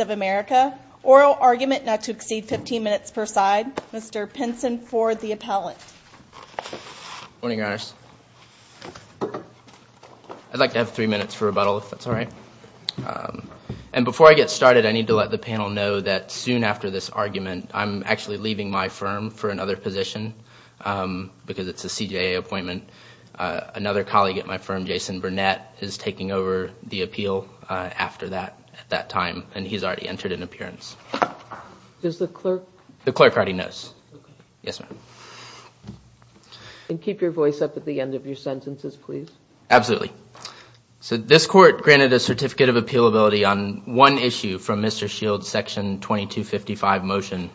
of America, oral argument not to exceed 15 minutes per side, Mr. Pinson Ford, the appellate. Good morning, Your Honors. I'd like to have three minutes for rebuttal if that's all right. And before I get started, I need to let the panel know that soon after this argument, I'm actually leaving my firm for another position because it's a CJA appointment. Another colleague at my firm, Jason Burnett, is taking over the appeal after that at that time, and he's already entered an appearance. Does the clerk? The clerk already knows. Yes, ma'am. And keep your voice up at the end of your sentences, please. Absolutely. So this court granted a certificate of appealability on one issue from Mr. Shields' Section 2255 motion.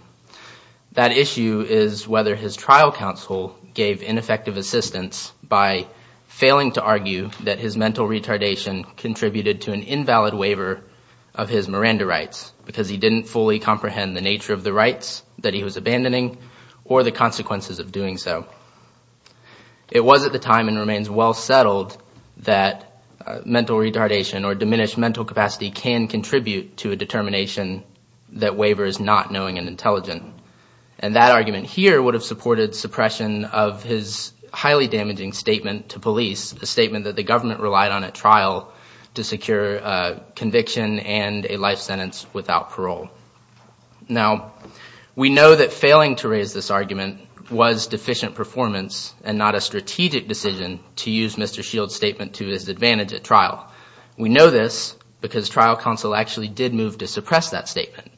That issue is whether his trial counsel gave ineffective assistance by failing to argue that his mental retardation contributed to an invalid waiver of his Miranda rights because he didn't fully comprehend the nature of the rights that he was abandoning or the consequences of doing so. It was at the time and remains well settled that mental retardation or diminished mental capacity can contribute to a determination that waiver is not knowing and intelligent. And that argument here would have supported suppression of his highly damaging statement to police, a statement that the government relied on at trial to secure conviction and a life sentence without parole. Now, we know that failing to raise this argument was deficient performance and not a strategic decision to use Mr. Shields' statement to his advantage at trial. We know this because trial counsel actually did move to suppress that statement.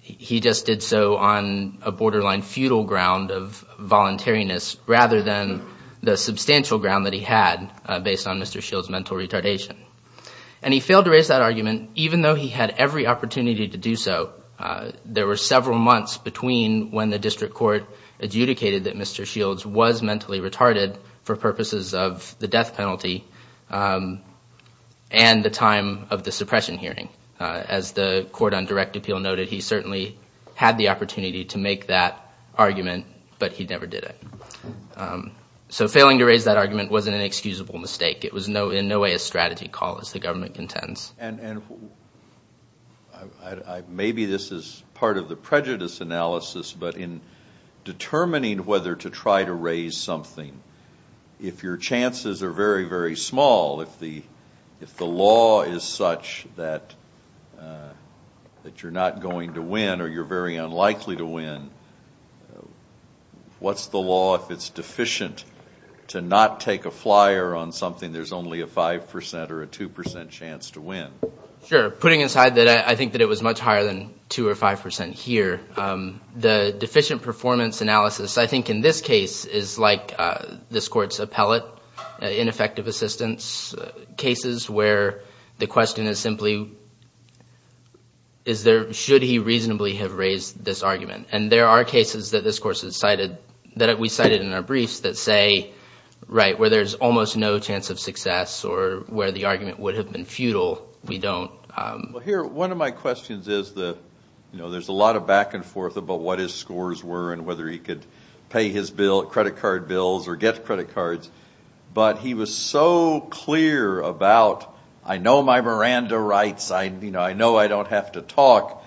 He just did so on a borderline feudal ground of voluntariness rather than the substantial ground that he had based on Mr. Shields' mental retardation. And he failed to raise that argument even though he had every opportunity to do so. There were several months between when the district court adjudicated that Mr. Shields was mentally retarded for purposes of the death penalty and the time of the suppression hearing. As the court on direct appeal noted, he certainly had the opportunity to make that argument, but he never did it. So failing to raise that argument wasn't an excusable mistake. It was in no way a strategy call as the government contends. And maybe this is part of the prejudice analysis, but in determining whether to try to raise something, if your chances are very, very small, if the law is such that you're not going to win or you're very unlikely to win, what's the law if it's deficient to not take a flyer on something there's only a 5% or a 2% chance to win? Sure. Putting aside that I think that it was much higher than 2% or 5% here, the deficient performance analysis, I think in this case, is like this court's appellate ineffective assistance cases where the question is simply, should he reasonably have raised this argument? And there are cases that this court has cited that we cited in our briefs that say, right, where there's almost no chance of success or where the argument would have been futile, we don't. Here, one of my questions is that there's a lot of back and forth about what his scores were and whether he could pay his credit card bills or get credit cards, but he was so clear about, I know my Miranda rights, I know I don't have to talk,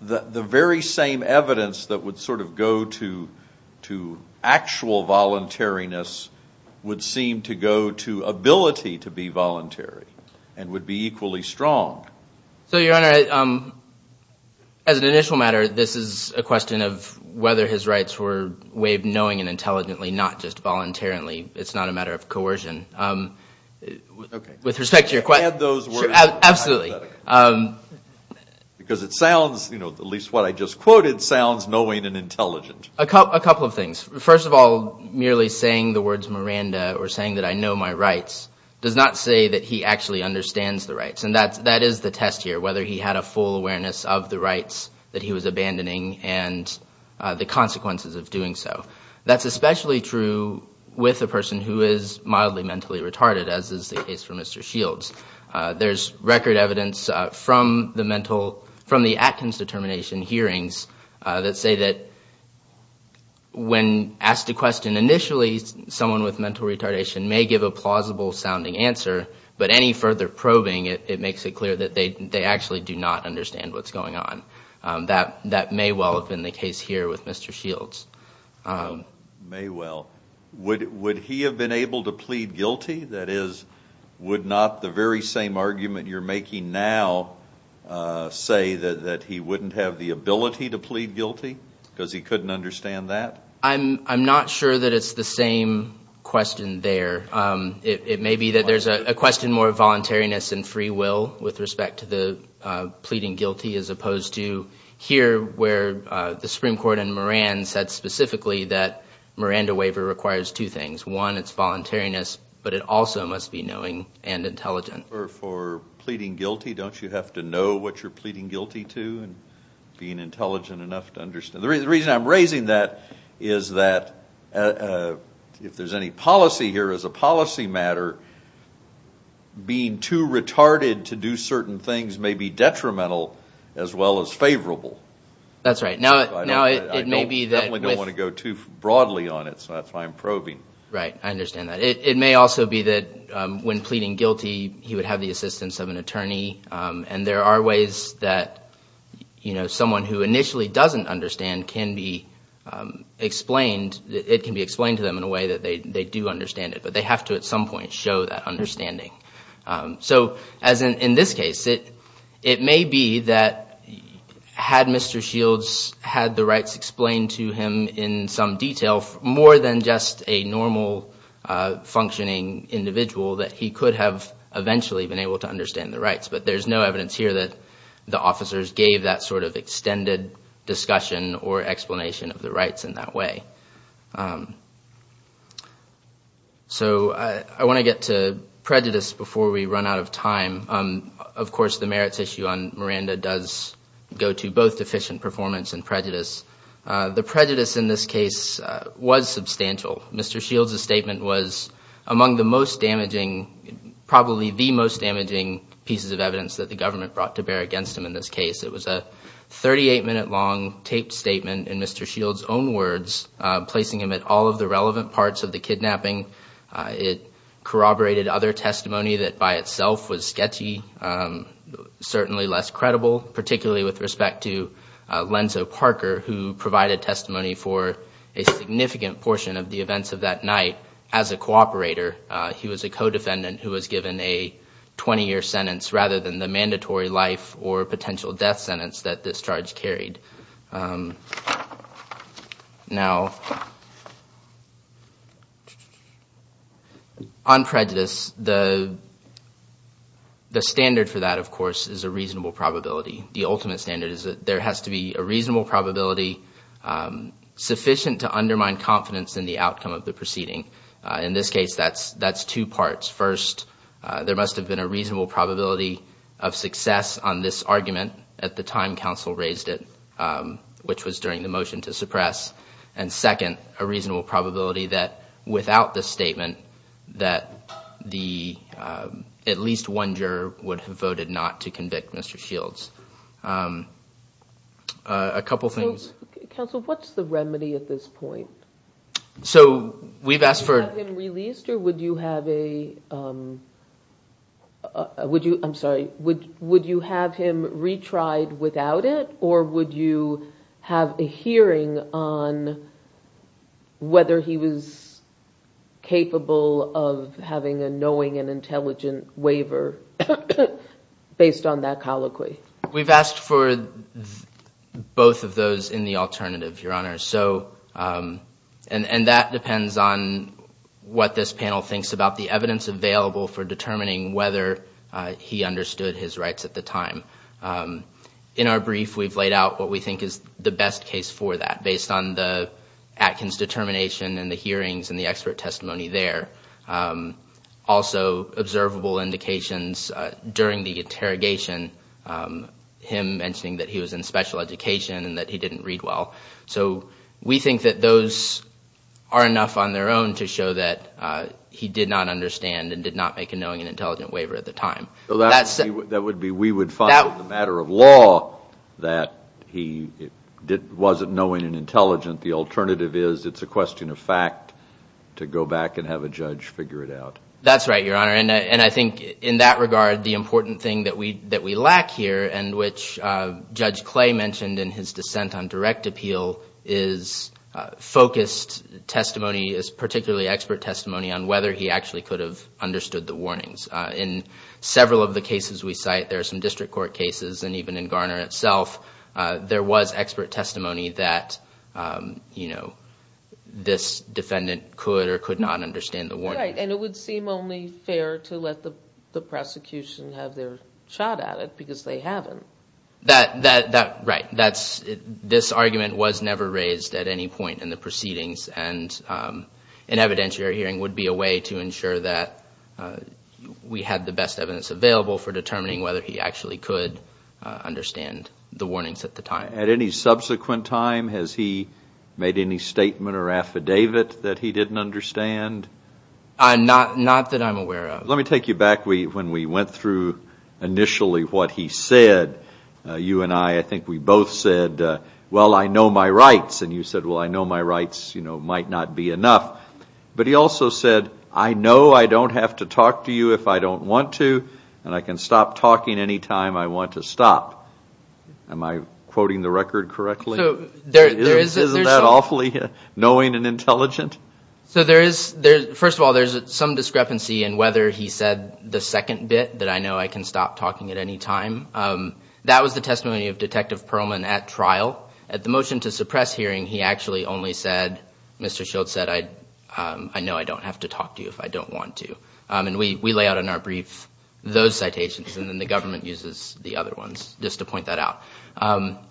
the very same evidence that would sort of go to actual voluntariness would seem to go to ability to be voluntary and would be equally strong. So, Your Honor, as an initial matter, this is a question of whether his rights were waived knowing and intelligently, not just voluntarily. It's not a matter of coercion. Okay. With respect to your question. Add those words. Absolutely. Because it sounds, at least what I just quoted, sounds knowing and intelligent. A couple of things. First of all, merely saying the words Miranda or saying that I know my rights does not say that he actually understands the rights. And that is the test here, whether he had a full awareness of the rights that he was abandoning and the consequences of doing so. That's especially true with a person who is mildly mentally retarded, as is the case for Mr. Shields. There's record evidence from the mental, from the Atkins determination hearings that say that when asked a question initially, someone with mental retardation may give a plausible sounding answer, but any further probing, it makes it clear that they actually do not understand what's going on. That may well have been the case here with Mr. Shields. May well. Would he have been able to plead guilty? That is, would not the very same argument you're making now say that he wouldn't have the ability to plead guilty because he couldn't understand that? I'm not sure that it's the same question there. It may be that there's a question more of voluntariness and free will with respect to the pleading guilty as opposed to here where the Supreme Court in Moran said specifically that Miranda waiver requires two things. One, it's voluntariness, but it also must be knowing and intelligent. For pleading guilty, don't you have to know what you're pleading guilty to and being intelligent enough to understand? The reason I'm raising that is that if there's any policy here as a policy matter, being too retarded to do certain things may be detrimental as well as favorable. That's right. I definitely don't want to go too broadly on it, so that's why I'm probing. Right. I understand that. It may also be that when pleading guilty, he would have the assistance of an attorney, and there are ways that someone who initially doesn't understand can be explained. It can be explained to them in a way that they do understand it, but they have to at some point show that understanding. So as in this case, it may be that had Mr. Shields had the rights explained to him in some detail more than just a normal functioning individual, that he could have eventually been able to understand the rights. But there's no evidence here that the officers gave that sort of extended discussion or explanation of the rights in that way. So I want to get to prejudice before we run out of time. Of course, the merits issue on Miranda does go to both deficient performance and prejudice. The prejudice in this case was substantial. Mr. Shields' statement was among the most damaging, probably the most damaging pieces of evidence that the government brought to bear against him in this case. It was a 38-minute long taped statement in Mr. Shields' own words, placing him at all of the relevant parts of the kidnapping. It corroborated other testimony that by itself was sketchy, certainly less credible, particularly with respect to Lenzo Parker, who provided testimony for a significant portion of the events of that night as a cooperator. He was a co-defendant who was given a 20-year sentence rather than the mandatory life or potential death sentence that this charge carried. Now, on prejudice, the standard for that, of course, is a reasonable probability. The ultimate standard is that there has to be a reasonable probability sufficient to undermine confidence in the outcome of the proceeding. In this case, that's two parts. First, there must have been a reasonable probability of success on this argument at the time counsel raised it, which was during the motion to suppress. And second, a reasonable probability that without the statement that at least one juror would have voted not to convict Mr. Shields. A couple things. So, counsel, what's the remedy at this point? So, we've asked for... Would you have him released or would you have a... I'm sorry. Would you have him retried without it or would you have a hearing on whether he was capable of having a knowing and intelligent waiver based on that colloquy? We've asked for both of those in the alternative, Your Honor. And that depends on what this panel thinks about the evidence available for determining whether he understood his rights at the time. In our brief, we've laid out what we think is the best case for that based on the Atkins determination and the hearings and the expert testimony there. Also, observable indications during the interrogation, him mentioning that he was in special education and that he didn't read well. So, we think that those are enough on their own to show that he did not understand and did not make a knowing and intelligent waiver at the time. That would be we would find in the matter of law that he wasn't knowing and intelligent. The alternative is it's a question of fact to go back and have a judge figure it out. That's right, Your Honor. And I think in that regard, the important thing that we lack here and which Judge Clay mentioned in his dissent on direct appeal is focused testimony, is particularly expert testimony on whether he actually could have understood the warnings. In several of the cases we cite, there are some district court cases and even in Garner itself, there was expert testimony that this defendant could or could not understand the warnings. Right. And it would seem only fair to let the prosecution have their shot at it because they haven't. Right. This argument was never raised at any point in the proceedings and an evidentiary hearing would be a way to ensure that we had the best evidence available for determining whether he actually could understand the warnings at the time. At any subsequent time, has he made any statement or affidavit that he didn't understand? Not that I'm aware of. Let me take you back when we went through initially what he said. You and I, I think we both said, well, I know my rights. And you said, well, I know my rights might not be enough. But he also said, I know I don't have to talk to you if I don't want to and I can stop talking any time I want to stop. Am I quoting the record correctly? Isn't that awfully knowing and intelligent? So there is, first of all, there's some discrepancy in whether he said the second bit, that I know I can stop talking at any time. That was the testimony of Detective Pearlman at trial. At the motion to suppress hearing, he actually only said, Mr. Shields said, I know I don't have to talk to you if I don't want to. And we lay out in our brief those citations, and then the government uses the other ones just to point that out.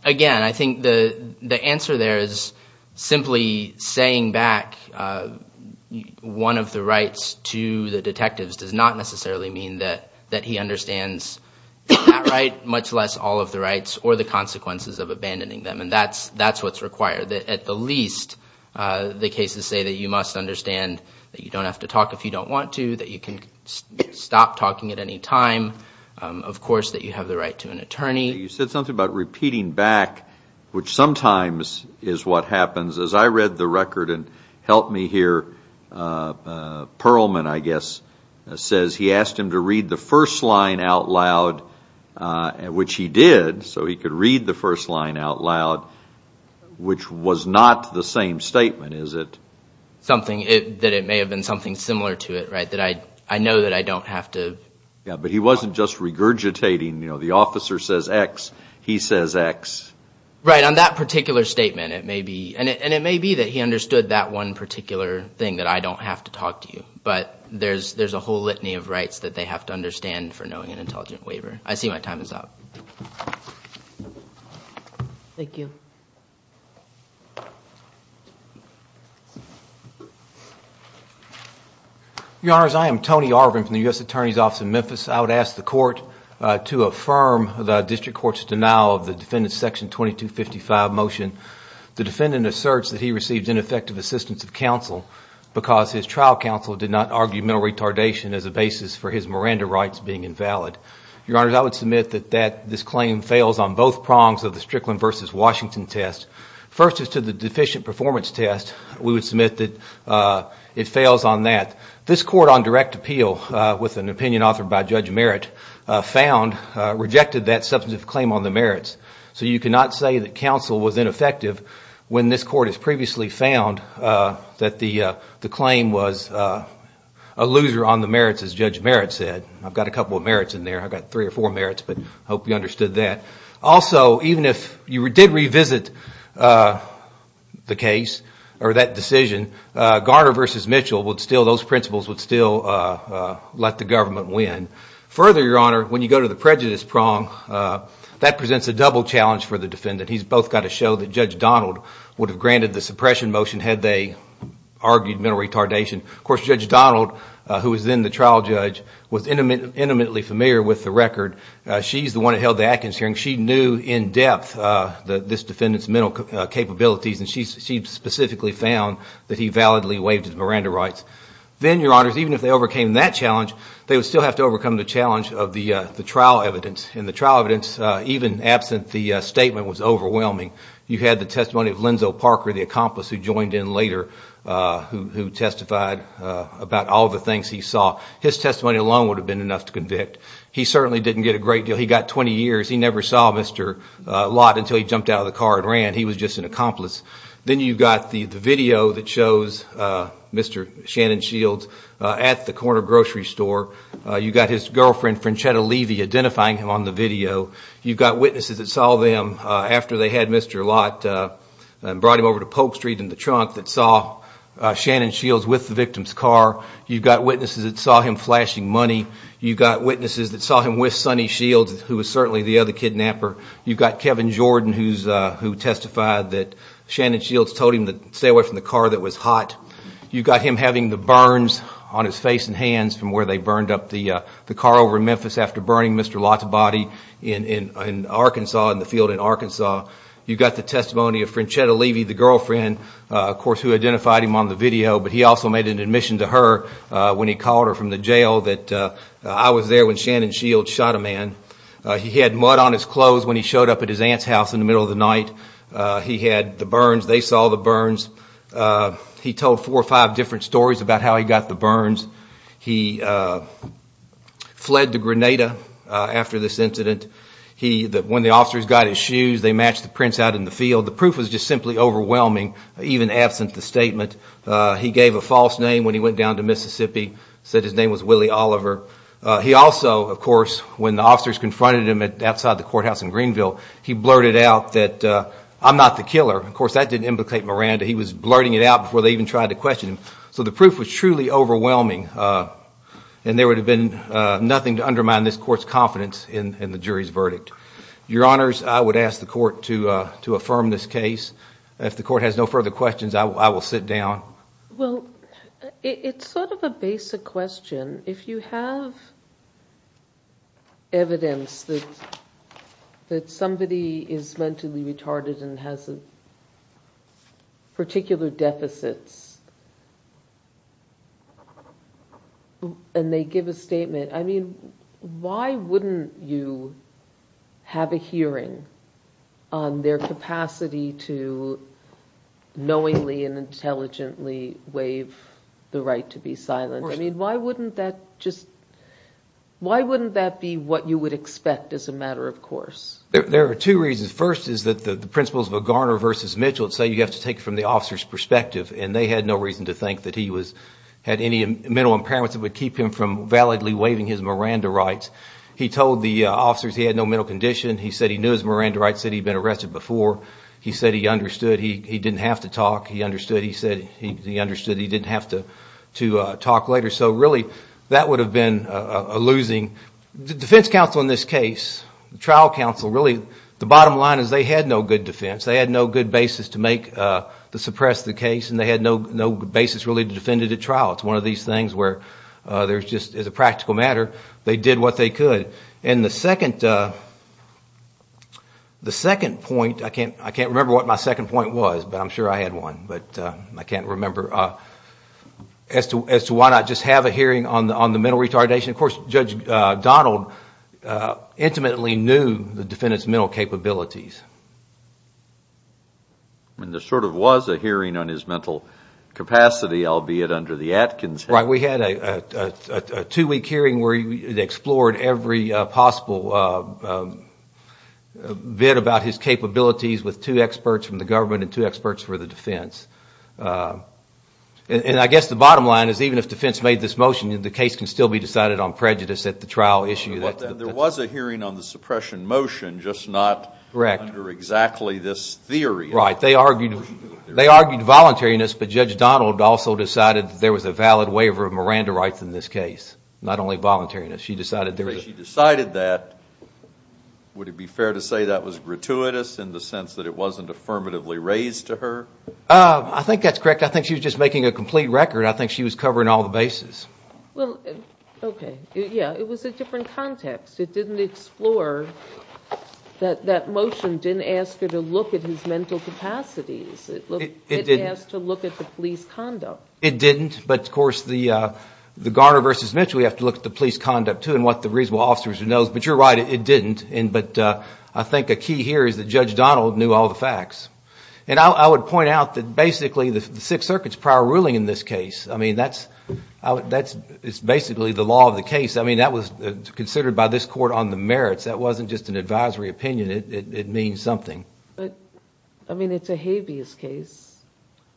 Again, I think the answer there is simply saying back one of the rights to the detectives does not necessarily mean that he understands that right, much less all of the rights or the consequences of abandoning them. And that's what's required. At the least, the cases say that you must understand that you don't have to talk if you don't want to, that you can stop talking at any time, of course, that you have the right to an attorney. You said something about repeating back, which sometimes is what happens. As I read the record, and help me here, Pearlman, I guess, says he asked him to read the first line out loud, which he did, so he could read the first line out loud, which was not the same statement, is it? Something that it may have been something similar to it, right, that I know that I don't have to. Yeah, but he wasn't just regurgitating, you know, the officer says X, he says X. Right, on that particular statement, it may be. And it may be that he understood that one particular thing, that I don't have to talk to you. But there's a whole litany of rights that they have to understand for knowing an intelligent waiver. I see my time is up. Thank you. Your Honors, I am Tony Arvin from the U.S. Attorney's Office in Memphis. I would ask the court to affirm the district court's denial of the defendant's Section 2255 motion. The defendant asserts that he received ineffective assistance of counsel because his trial counsel did not argue mental retardation as a basis for his Miranda rights being invalid. Your Honors, I would submit that this claim fails on both prongs of the Strickland v. Washington test. First, as to the deficient performance test, we would submit that it fails on that. This court on direct appeal, with an opinion authored by Judge Merritt, found, rejected that substantive claim on the merits. So you cannot say that counsel was ineffective when this court has previously found that the claim was a loser on the merits, as Judge Merritt said. I've got a couple of merits in there. I've got three or four merits, but I hope you understood that. Also, even if you did revisit the case or that decision, Garner v. Mitchell, those principles would still let the government win. Further, Your Honor, when you go to the prejudice prong, that presents a double challenge for the defendant. He's both got to show that Judge Donald would have granted the suppression motion had they argued mental retardation. Of course, Judge Donald, who was then the trial judge, was intimately familiar with the record. She's the one that held the Atkins hearing. She knew in depth this defendant's mental capabilities. And she specifically found that he validly waived his Miranda rights. Then, Your Honors, even if they overcame that challenge, they would still have to overcome the challenge of the trial evidence. And the trial evidence, even absent the statement, was overwhelming. You had the testimony of Lenzo Parker, the accomplice who joined in later, who testified about all the things he saw. His testimony alone would have been enough to convict. He certainly didn't get a great deal. He got 20 years. He never saw Mr. Lott until he jumped out of the car and ran. He was just an accomplice. Then you've got the video that shows Mr. Shannon Shields at the corner grocery store. You've got his girlfriend, Franchetta Levy, identifying him on the video. You've got witnesses that saw them after they had Mr. Lott and brought him over to Polk Street in the trunk, that saw Shannon Shields with the victim's car. You've got witnesses that saw him flashing money. You've got witnesses that saw him with Sonny Shields, who was certainly the other kidnapper. You've got Kevin Jordan, who testified that Shannon Shields told him to stay away from the car that was hot. You've got him having the burns on his face and hands from where they burned up the car over in Memphis after burning Mr. Lott's body in Arkansas, in the field in Arkansas. You've got the testimony of Franchetta Levy, the girlfriend, of course, who identified him on the video. But he also made an admission to her when he called her from the jail that I was there when Shannon Shields shot a man. He had mud on his clothes when he showed up at his aunt's house in the middle of the night. He had the burns. They saw the burns. He told four or five different stories about how he got the burns. He fled to Grenada after this incident. When the officers got his shoes, they matched the prints out in the field. The proof was just simply overwhelming, even absent the statement. He gave a false name when he went down to Mississippi, said his name was Willie Oliver. He also, of course, when the officers confronted him outside the courthouse in Greenville, he blurted out that I'm not the killer. Of course, that didn't implicate Miranda. He was blurting it out before they even tried to question him. So the proof was truly overwhelming, and there would have been nothing to undermine this court's confidence in the jury's verdict. Your Honors, I would ask the court to affirm this case. If the court has no further questions, I will sit down. It's sort of a basic question. If you have evidence that somebody is mentally retarded and has particular deficits, and they give a statement, I mean, why wouldn't you have a hearing on their capacity to knowingly and intelligently waive the right to be silent? I mean, why wouldn't that be what you would expect as a matter of course? There are two reasons. First is that the principles of a Garner v. Mitchell say you have to take it from the officer's perspective, and they had no reason to think that he had any mental impairments that would keep him from validly waiving his Miranda rights. He told the officers he had no mental condition. He said he knew his Miranda rights, said he'd been arrested before. He said he understood he didn't have to talk. He understood he said he understood he didn't have to talk later. So really, that would have been a losing. The defense counsel in this case, the trial counsel, really, the bottom line is they had no good defense. They had no good basis to suppress the case, and they had no basis really to defend it at trial. It's one of these things where there's just, as a practical matter, they did what they could. And the second point, I can't remember what my second point was, but I'm sure I had one, but I can't remember. As to why not just have a hearing on the mental retardation, of course, Judge Donald intimately knew the defendant's mental capabilities. I mean, there sort of was a hearing on his mental capacity, albeit under the Atkins. Right. We had a two-week hearing where they explored every possible bit about his capabilities with two experts from the government and two experts for the defense. And I guess the bottom line is even if defense made this motion, the case can still be decided on prejudice at the trial issue. There was a hearing on the suppression motion, just not under exactly this theory. Right. They argued voluntariness, but Judge Donald also decided there was a valid waiver of Miranda rights in this case. Not only voluntariness. She decided that. Would it be fair to say that was gratuitous in the sense that it wasn't affirmatively raised to her? I think that's correct. I think she was just making a complete record. I think she was covering all the bases. Well, okay. Yeah, it was a different context. It didn't explore that that motion didn't ask her to look at his mental capacities. It didn't, but of course, the Garner v. Mitchell, we have to look at the police conduct, too, and what the reasonable officers know. But you're right, it didn't. But I think a key here is that Judge Donald knew all the facts. And I would point out that basically the Sixth Circuit's prior ruling in this case, I mean, that's basically the law of the case. I mean, that was considered by this Court on the merits. That wasn't just an advisory opinion. It means something. But, I mean, it's a habeas case.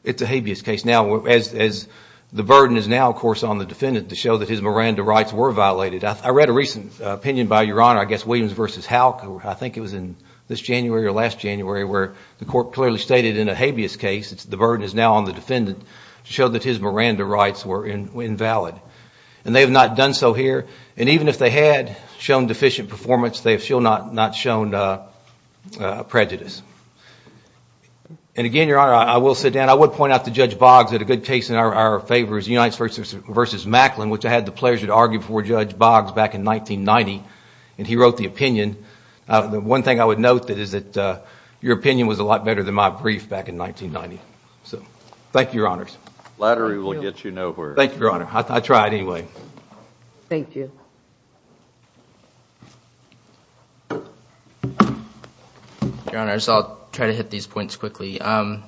It's a habeas case. Now, the burden is now, of course, on the defendant to show that his Miranda rights were violated. I read a recent opinion by Your Honor, I guess Williams v. Houck, I think it was in this January or last January, where the Court clearly stated in a habeas case, the burden is now on the defendant to show that his Miranda rights were invalid. And they have not done so here. And even if they had shown deficient performance, they have still not shown prejudice. And again, Your Honor, I will sit down. I would point out to Judge Boggs that a good case in our favor is Unites v. Macklin, which I had the pleasure to argue before Judge Boggs. Back in 1990, he wrote the opinion. The one thing I would note is that your opinion was a lot better than my brief back in 1990. So, thank you, Your Honors. Your Honors, I'll try to hit these points quickly. I'll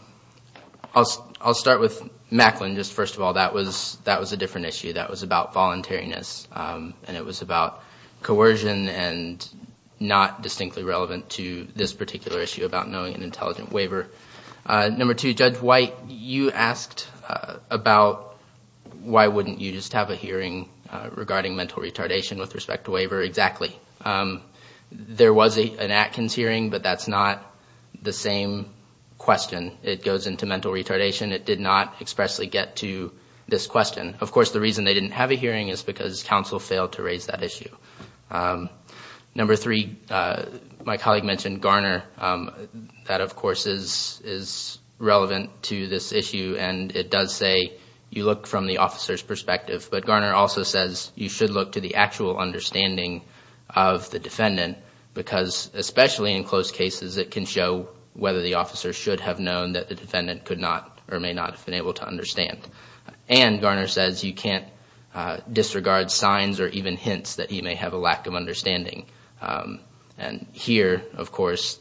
start with Macklin. First of all, that was a different issue. That was about voluntariness. And it was about coercion and not distinctly relevant to this particular issue about knowing an intelligent waiver. Number two, Judge White, you asked about why wouldn't you just have a hearing regarding mental retardation with respect to waiver. Exactly. There was an Atkins hearing, but that's not the same question. It goes into mental retardation. It did not expressly get to this question. Of course, the reason they didn't have a hearing is because counsel failed to raise that issue. Number three, my colleague mentioned Garner. That, of course, is relevant to this issue. And it does say you look from the officer's perspective. But Garner also says you should look to the actual understanding of the defendant because, especially in close cases, it can show whether the officer should have known that the defendant could not or may not have known. And Garner says you can't disregard signs or even hints that he may have a lack of understanding. And here, of course,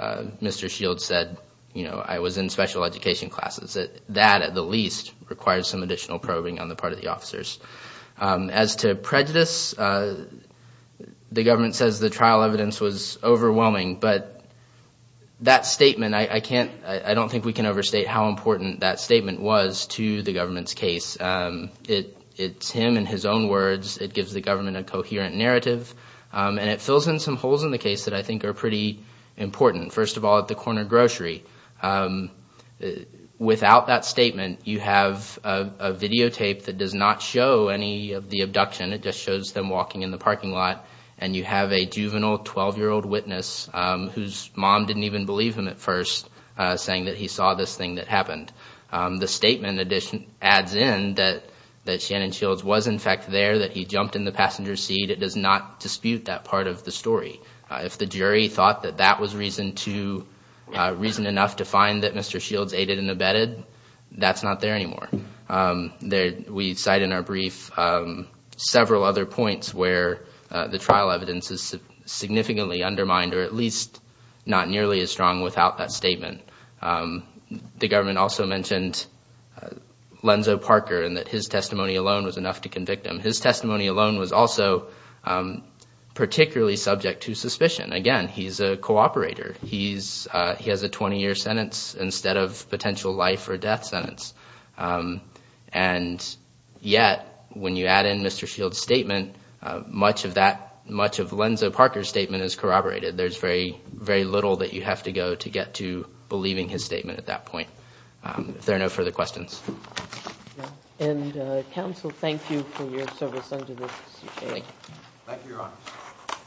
Mr. Shields said, I was in special education classes. That, at the least, requires some additional probing on the part of the officers. As to prejudice, the government says the trial evidence was overwhelming. But that statement, I don't think we can overstate how important that statement was to the government's case. It's him in his own words. It gives the government a coherent narrative. And it fills in some holes in the case that I think are pretty important. First of all, at the corner grocery. Without that statement, you have a videotape that does not show any of the abduction. It just shows them walking in the parking lot and you have a juvenile 12-year-old witness whose mom didn't even believe him at first, saying that he saw this thing that happened. The statement adds in that Shannon Shields was, in fact, there, that he jumped in the passenger seat. It does not dispute that part of the story. If the jury thought that that was reason enough to find that Mr. Shields aided and abetted, that's not there anymore. We cite in our brief several other points where the trial evidence is significantly undermined or at least not nearly as strong without that statement. The government also mentioned Lenzo Parker and that his testimony alone was enough to convict him. His testimony alone was also particularly subject to suspicion. Again, he's a cooperator. He has a 20-year sentence instead of a potential life or death sentence. And yet, when you add in Mr. Shields' statement, much of Lenzo Parker's statement is corroborated. There's very little that you have to go to get to believing his statement at that point. If there are no further questions.